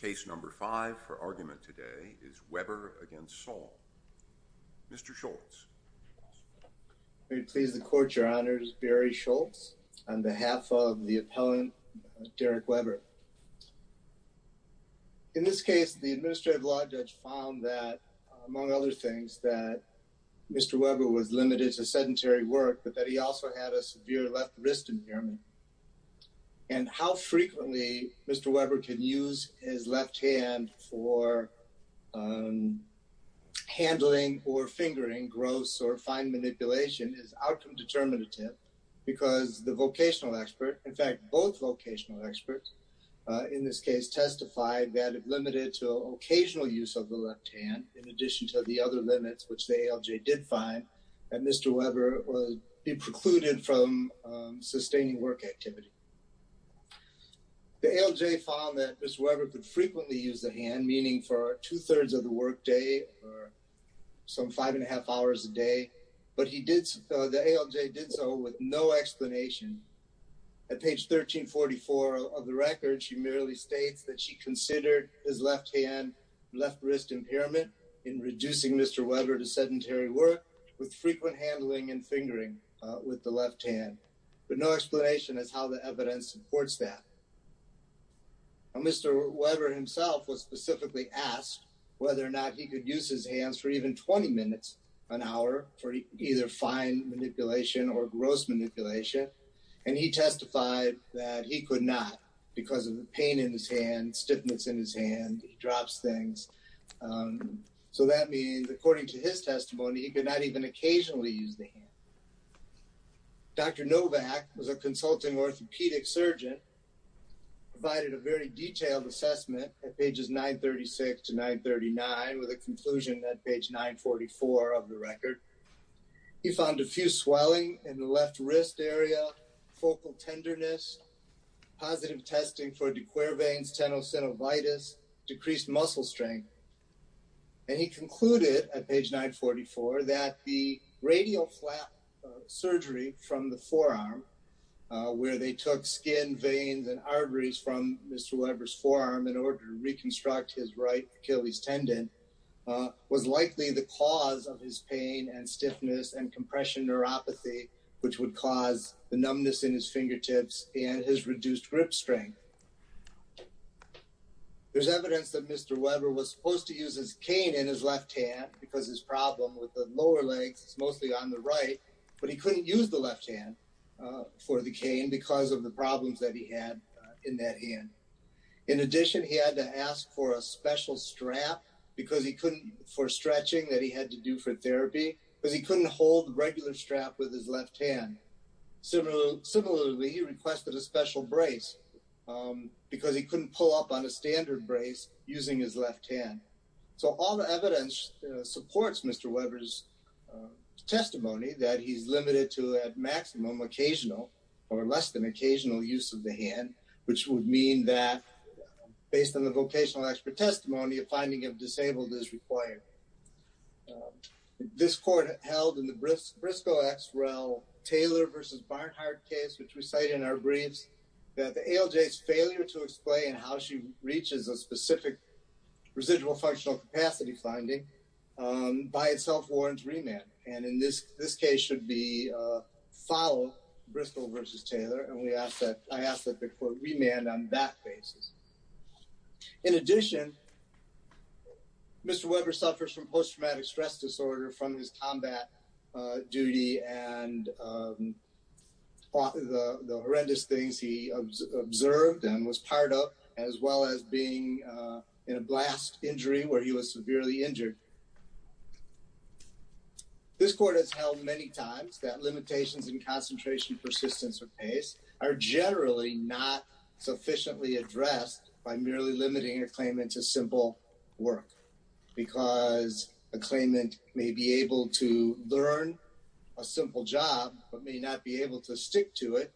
Case No. 5 for argument today is Weber v. Saul. Mr. Schultz. May it please the Court, Your Honors. Barry Schultz on behalf of the appellant, Derrick Weber. In this case, the administrative law judge found that, among other things, that Mr. Weber was limited to sedentary work, but that he also had a severe left wrist impairment. And how frequently Mr. Weber can use his left hand for handling or fingering gross or fine manipulation is outcome determinative, because the vocational expert, in fact, both vocational experts in this case testified that if limited to occasional use of the left hand, in addition to the other limits which the ALJ did find, that Mr. Weber would be precluded from sustaining work activity. The ALJ found that Mr. Weber could frequently use the hand, meaning for two-thirds of the work day or some five and a half hours a day, but the ALJ did so with no explanation. At page 1344 of the record, she merely states that she considered his left hand, left wrist impairment in reducing Mr. Weber to sedentary work with frequent handling and fingering with the left hand, but no explanation as how the evidence supports that. Mr. Weber himself was specifically asked whether or not he could use his hands for even 20 minutes an hour for either fine manipulation or gross manipulation, and he testified that he could not because of the pain in his hand, stiffness in his hand, he drops things. So that means, according to his testimony, he could not even occasionally use the hand. Dr. Novak was a consulting orthopedic surgeon, provided a very detailed assessment at pages 936 to 939 with a conclusion at page 944 of the record. He found diffuse swelling in the left wrist area, focal tenderness, positive testing for De Quervain's tenosynovitis, decreased muscle strength, and he concluded at page 944 that the radial flap surgery from the forearm, where they took skin, veins, and arteries from Mr. Weber's forearm in order to reconstruct his right Achilles tendon, was likely the cause of his pain and stiffness and compression neuropathy, which would cause the numbness in his fingertips and his reduced grip strength. There's evidence that Mr. Weber was supposed to use his cane in his left hand because his problem with the lower legs, it's mostly on the right, but he couldn't use the left hand for the cane because of the problems that he had in that hand. In addition, he had to ask for a special strap for stretching that he had to do for therapy because he couldn't hold the regular strap with his left hand. Similarly, he requested a special brace because he couldn't pull up on a standard brace using his left hand. So all the evidence supports Mr. Weber's testimony that he's limited to a maximum occasional or less than occasional use of the hand, which would mean that based on the vocational expert testimony, a finding of disabled is required. This court held in the Briscoe X. Rel. Taylor v. Barnhart case, which we cite in our briefs, that the ALJ's failure to explain how she reaches a specific residual functional capacity finding by itself warrants remand. And in this case should be followed, Briscoe v. Taylor. And I ask that the court remand on that basis. In addition, Mr. Weber suffers from post-traumatic stress disorder from his combat duty and the horrendous things he observed and was part of, as well as being in a blast injury where he was severely injured. This court has held many times that limitations in concentration, persistence, or pace are generally not sufficiently addressed by merely limiting a claimant to simple work because a claimant may be able to learn a simple job but may not be able to stick to it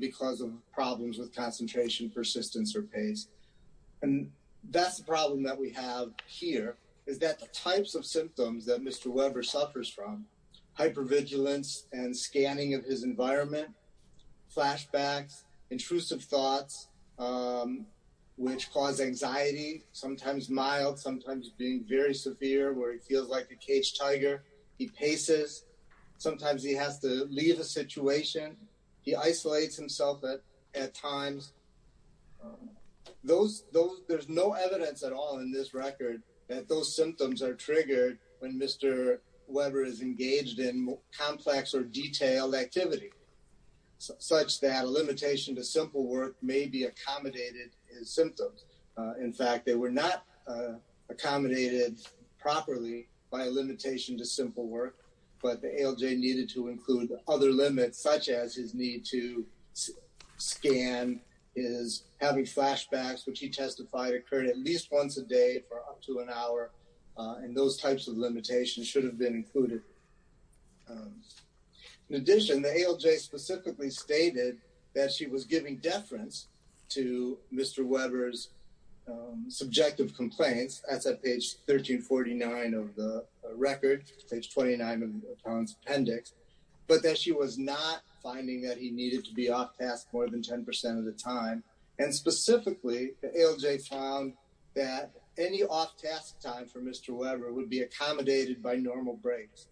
because of problems with concentration, persistence, or pace. And that's the problem that we have here, is that the types of symptoms that Mr. Weber suffers from, hypervigilance and scanning of his environment, flashbacks, intrusive thoughts, which cause anxiety, sometimes mild, sometimes being very severe where he feels like a caged tiger. He paces. Sometimes he has to leave a situation. He isolates himself at times. There's no evidence at all in this record that those symptoms are triggered when Mr. Weber is engaged in complex or detailed activity, such that a limitation to simple work may be accommodated as symptoms. In fact, they were not accommodated properly by a limitation to simple work, but the ALJ needed to include other limits, such as his need to scan, his having flashbacks, which he testified occurred at least once a day for up to an hour, and those types of limitations should have been included. In addition, the ALJ specifically stated that she was giving deference to Mr. Weber's subjective complaints. That's at page 1349 of the record, page 29 of Tom's appendix, but that she was not finding that he needed to be off task more than 10% of the time. And specifically, the ALJ found that any off-task time for Mr. Weber would be accommodated by normal breaks.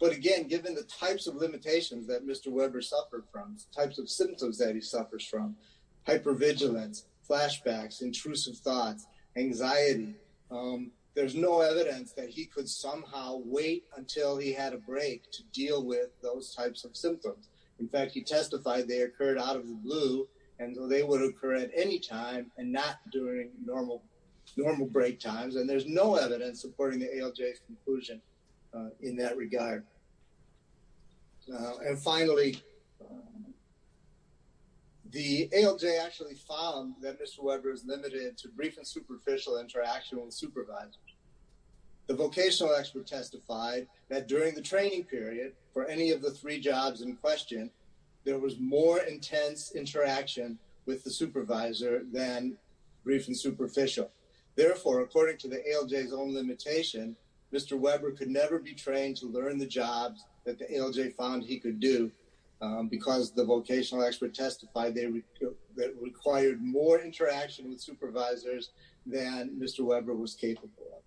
But again, given the types of limitations that Mr. Weber suffered from, types of symptoms that he suffers from, hypervigilance, flashbacks, intrusive thoughts, anxiety, there's no evidence that he could somehow wait until he had a break to deal with those types of symptoms. In fact, he testified they occurred out of the blue and they would occur at any time and not during normal break times, and there's no evidence supporting the ALJ's conclusion in that regard. And finally, the ALJ actually found that Mr. Weber is limited to brief and superficial interaction with supervisors. The vocational expert testified that during the training period for any of the three jobs in question, there was more intense interaction with the supervisor than brief and superficial. Therefore, according to the ALJ's own limitation, Mr. Weber could never be trained to learn the jobs that the ALJ found he could do, because the vocational expert testified that it required more interaction with supervisors than Mr. Weber was capable of.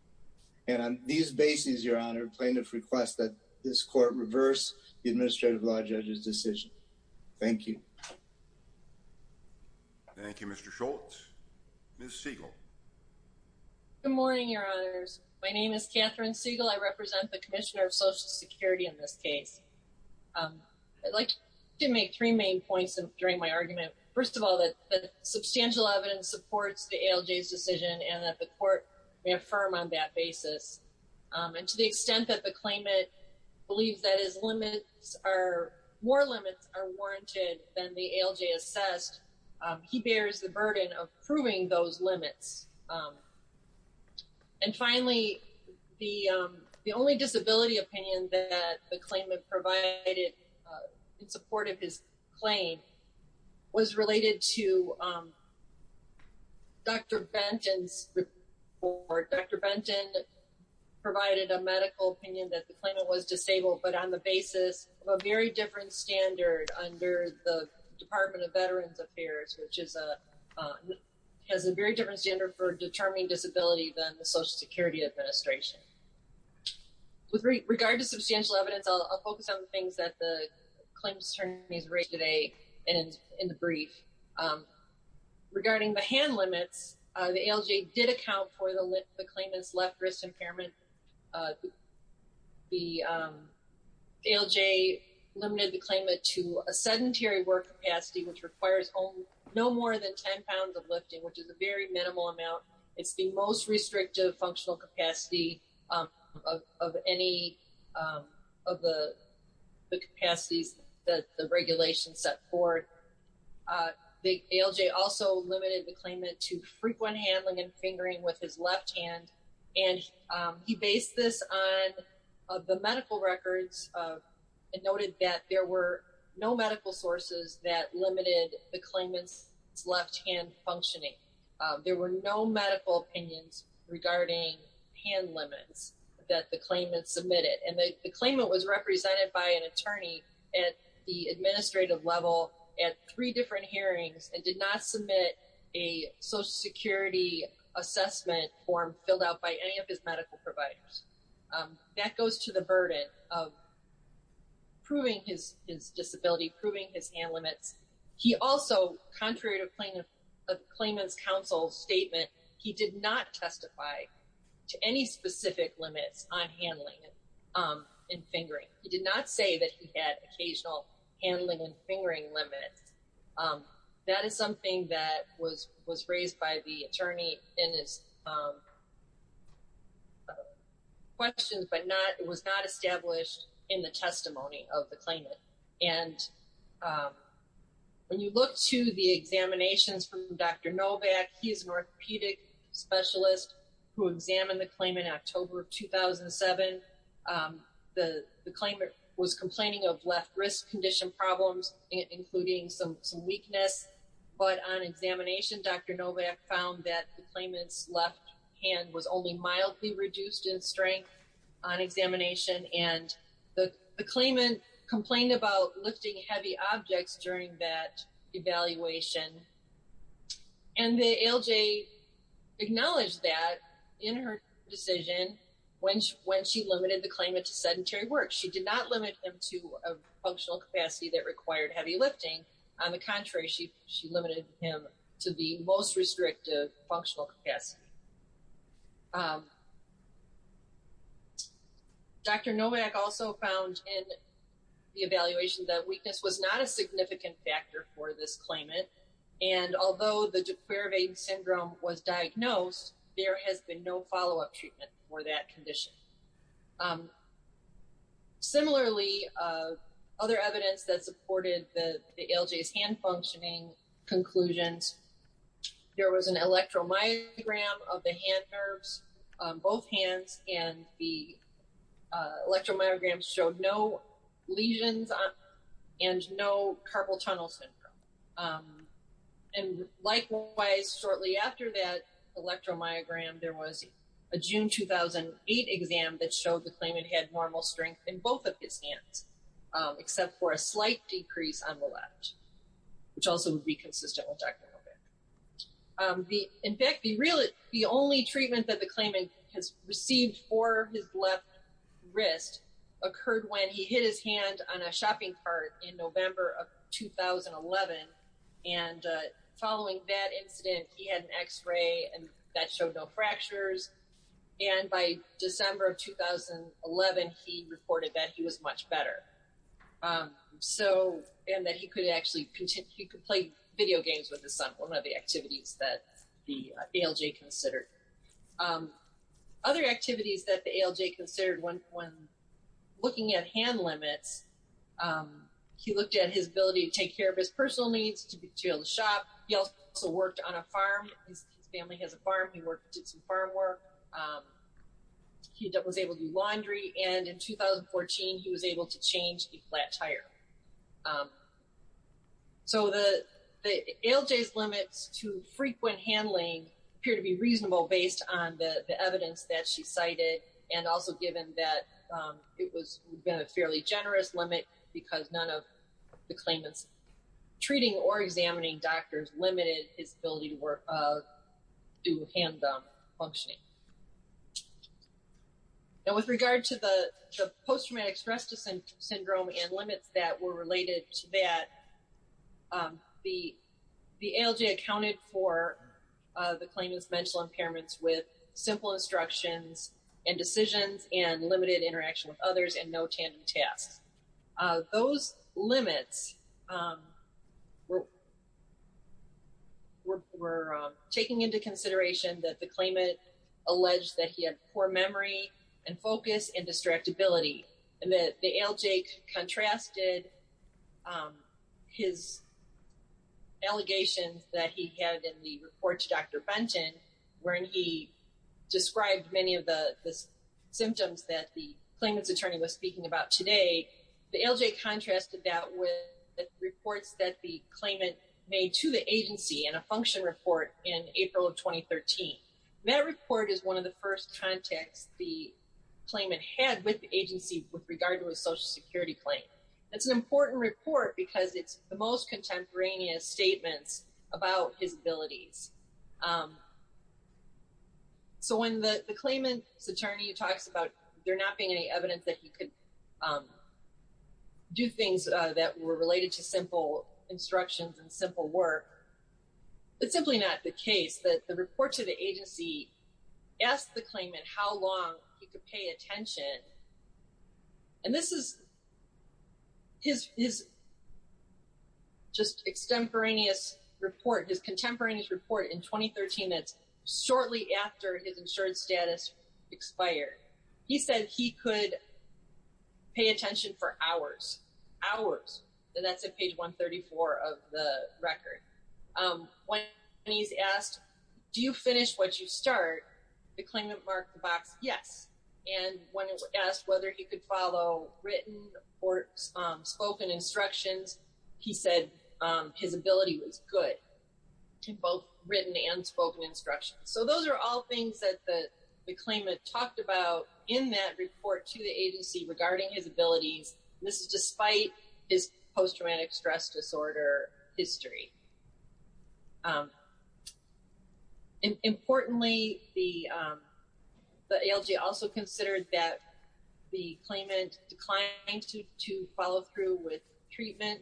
And on these bases, Your Honor, plaintiff requests that this court reverse the administrative law judge's decision. Thank you. Thank you, Mr. Schultz. Ms. Siegel. Good morning, Your Honors. My name is Catherine Siegel. I represent the Commissioner of Social Security in this case. I'd like to make three main points during my argument. First of all, that substantial evidence supports the ALJ's decision and that the court may affirm on that basis. And to the extent that the claimant believes that his limits are more limits are warranted than the ALJ assessed, he bears the burden of proving those limits. And finally, the only disability opinion that the claimant provided in support of his claim was related to Dr. Benton's report. Dr. Benton provided a medical opinion that the claimant was disabled, but on the basis of a very different standard under the Department of Veterans Affairs, which has a very different standard for determining disability than the Social Security Administration. With regard to substantial evidence, I'll focus on the things that the claimant's attorneys raised today in the brief. Regarding the hand limits, the ALJ did account for the claimant's left wrist impairment. The ALJ limited the claimant to a sedentary work capacity, which requires no more than 10 pounds of lifting, which is a very minimal amount. It's the most restrictive functional capacity of any of the capacities that the regulation set forth. The ALJ also limited the claimant to frequent handling and fingering with his left hand, and he based this on the medical records and noted that there were no medical sources that limited the claimant's left hand functioning. There were no medical opinions regarding hand limits that the claimant submitted, and the claimant was represented by an attorney at the administrative level at three different hearings and did not submit a Social Security assessment form filled out by any of his medical providers. That goes to the burden of proving his disability, proving his hand limits. He also, contrary to a claimant's counsel's statement, he did not testify to any specific limits on handling and fingering. He did not say that he had occasional handling and fingering limits. That is something that was raised by the attorney in his questions but was not established in the testimony of the claimant. When you look to the examinations from Dr. Novak, he is an orthopedic specialist who examined the claimant in October 2007. The claimant was complaining of left wrist condition problems, including some weakness, but on examination, Dr. Novak found that the claimant's left hand was only mildly reduced in strength on examination. The claimant complained about lifting heavy objects during that evaluation, and the ALJ acknowledged that in her decision when she limited the claimant to sedentary work. She did not limit him to a functional capacity that required heavy lifting. On the contrary, she limited him to the most restrictive functional capacity. Dr. Novak also found in the evaluation that weakness was not a significant factor for this claimant, and although the de Quervain syndrome was diagnosed, there has been no follow-up treatment for that condition. Similarly, other evidence that supported the ALJ's hand functioning conclusions, there was an electromyogram of the hand nerves on both hands, and the electromyogram showed no lesions and no carpal tunnel syndrome. And likewise, shortly after that electromyogram, there was a June 2008 exam that showed the claimant had normal strength in both of his hands, except for a slight decrease on the left, which also would be consistent with Dr. Novak. In fact, the only treatment that the claimant has received for his left wrist occurred when he hit his hand on a shopping cart in November of 2011, and following that incident, he had an x-ray, and that showed no fractures, and by December of 2011, he reported that he was much better, and that he could actually play video games with his son, one of the activities that the ALJ considered. Other activities that the ALJ considered when looking at hand limits, he looked at his ability to take care of his personal needs, to be able to shop, he also worked on a farm, his family has a farm, he did some farm work, he was able to do laundry, and in 2014, he was able to change a flat tire. So the ALJ's limits to frequent handling appear to be reasonable based on the evidence that she cited, and also given that it was a fairly generous limit, because none of the claimant's treating or examining doctors limited his ability to do hand-thumb functioning. Now with regard to the post-traumatic stress syndrome and limits that were related to that, the ALJ accounted for the claimant's mental impairments with simple instructions and decisions and limited interaction with others and no tandem tasks. Those limits were taking into consideration that the claimant alleged that he had poor memory and focus and distractibility, and that the ALJ contrasted his allegations that he had in the report to Dr. Benton, wherein he described many of the symptoms that the claimant's attorney was speaking about today. The ALJ contrasted that with the reports that the claimant made to the agency in a function report in April of 2013. That report is one of the first contacts the claimant had with the agency with regard to a Social Security claim. It's an important report because it's the most contemporaneous statements about his abilities. So when the claimant's attorney talks about there not being any evidence that he could do things that were related to simple instructions and simple work, it's simply not the case that the report to the agency asked the claimant how long he could pay attention. And this is his just extemporaneous report, his contemporaneous report in 2013. It's shortly after his insurance status expired. He said he could pay attention for hours, hours. And that's at page 134 of the record. When he's asked, do you finish what you start, the claimant marked the box yes. And when he was asked whether he could follow written or spoken instructions, he said his ability was good in both written and spoken instructions. So those are all things that the claimant talked about in that report to the agency regarding his abilities. This is despite his post-traumatic stress disorder history. Importantly, the ALJ also considered that the claimant declined to follow through with treatment.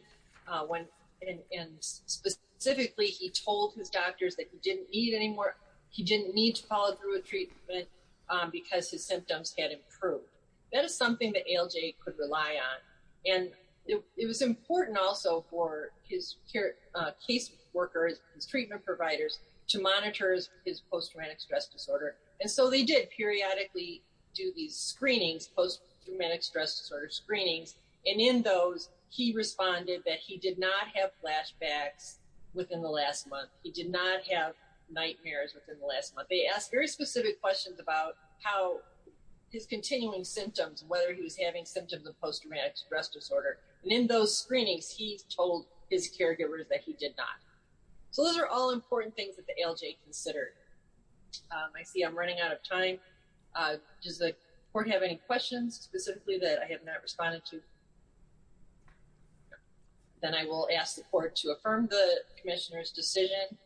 And specifically, he told his doctors that he didn't need any more. He didn't need to follow through with treatment because his symptoms had improved. That is something that ALJ could rely on. And it was important also for his case workers, his treatment providers, to monitor his post-traumatic stress disorder. And so they did periodically do these screenings, post-traumatic stress disorder screenings. And in those, he responded that he did not have flashbacks within the last month. He did not have nightmares within the last month. They asked very specific questions about how his continuing symptoms, whether he was having symptoms of post-traumatic stress disorder. And in those screenings, he told his caregivers that he did not. So those are all important things that the ALJ considered. I see I'm running out of time. Does the court have any questions specifically that I have not responded to? Then I will ask the court to affirm the commissioner's decision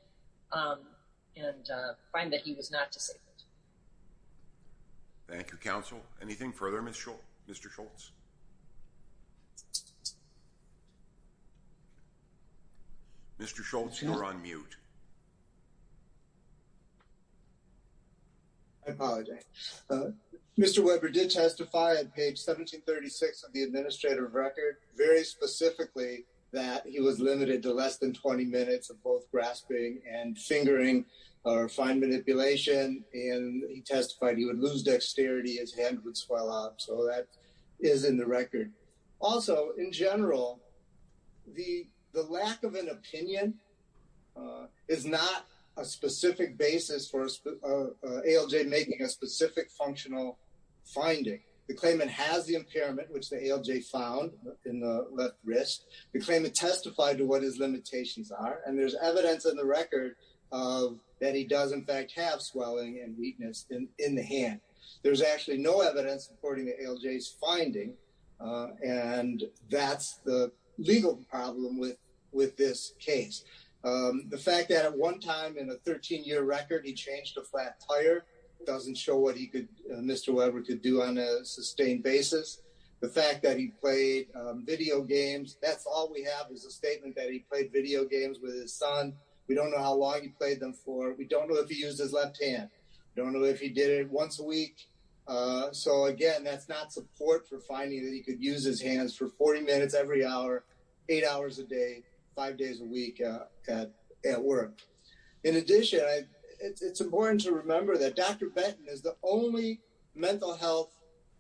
and find that he was not disabled. Thank you, counsel. Anything further, Mr. Schultz? Mr. Schultz, you're on mute. I apologize. Mr. Weber did testify at page 1736 of the administrative record very specifically that he was limited to less than 20 minutes of both grasping and fingering or fine manipulation. And he testified he would lose dexterity, his hand would swell up. So that is in the record. Also, in general, the lack of an opinion is not a specific basis for ALJ making a specific functional finding. The claimant has the impairment, which the ALJ found in the left wrist. The claimant testified to what his limitations are. And there's evidence in the record that he does, in fact, have swelling and weakness in the hand. There's actually no evidence according to ALJ's finding. And that's the legal problem with this case. The fact that at one time in a 13-year record he changed a flat tire doesn't show what Mr. Weber could do on a sustained basis. The fact that he played video games, that's all we have is a statement that he played video games with his son. We don't know how long he played them for. We don't know if he used his left hand. We don't know if he did it once a week. So, again, that's not support for finding that he could use his hands for 40 minutes every hour, eight hours a day, five days a week at work. In addition, it's important to remember that Dr. Benton is the only mental health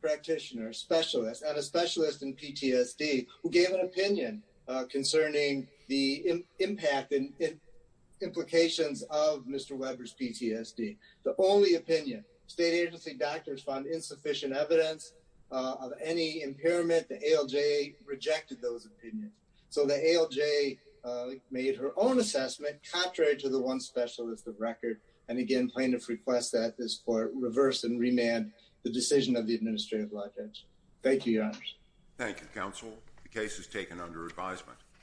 practitioner specialist, and a specialist in PTSD, who gave an opinion concerning the impact and implications of Mr. Weber's PTSD. The only opinion. State agency doctors found insufficient evidence of any impairment. The ALJ rejected those opinions. So the ALJ made her own assessment, contrary to the one specialist of record, and, again, plaintiff requests that this court reverse and remand the decision of the Administrative Lot Judge. Thank you, Your Honors. Thank you, Counsel. The case is taken under advisement.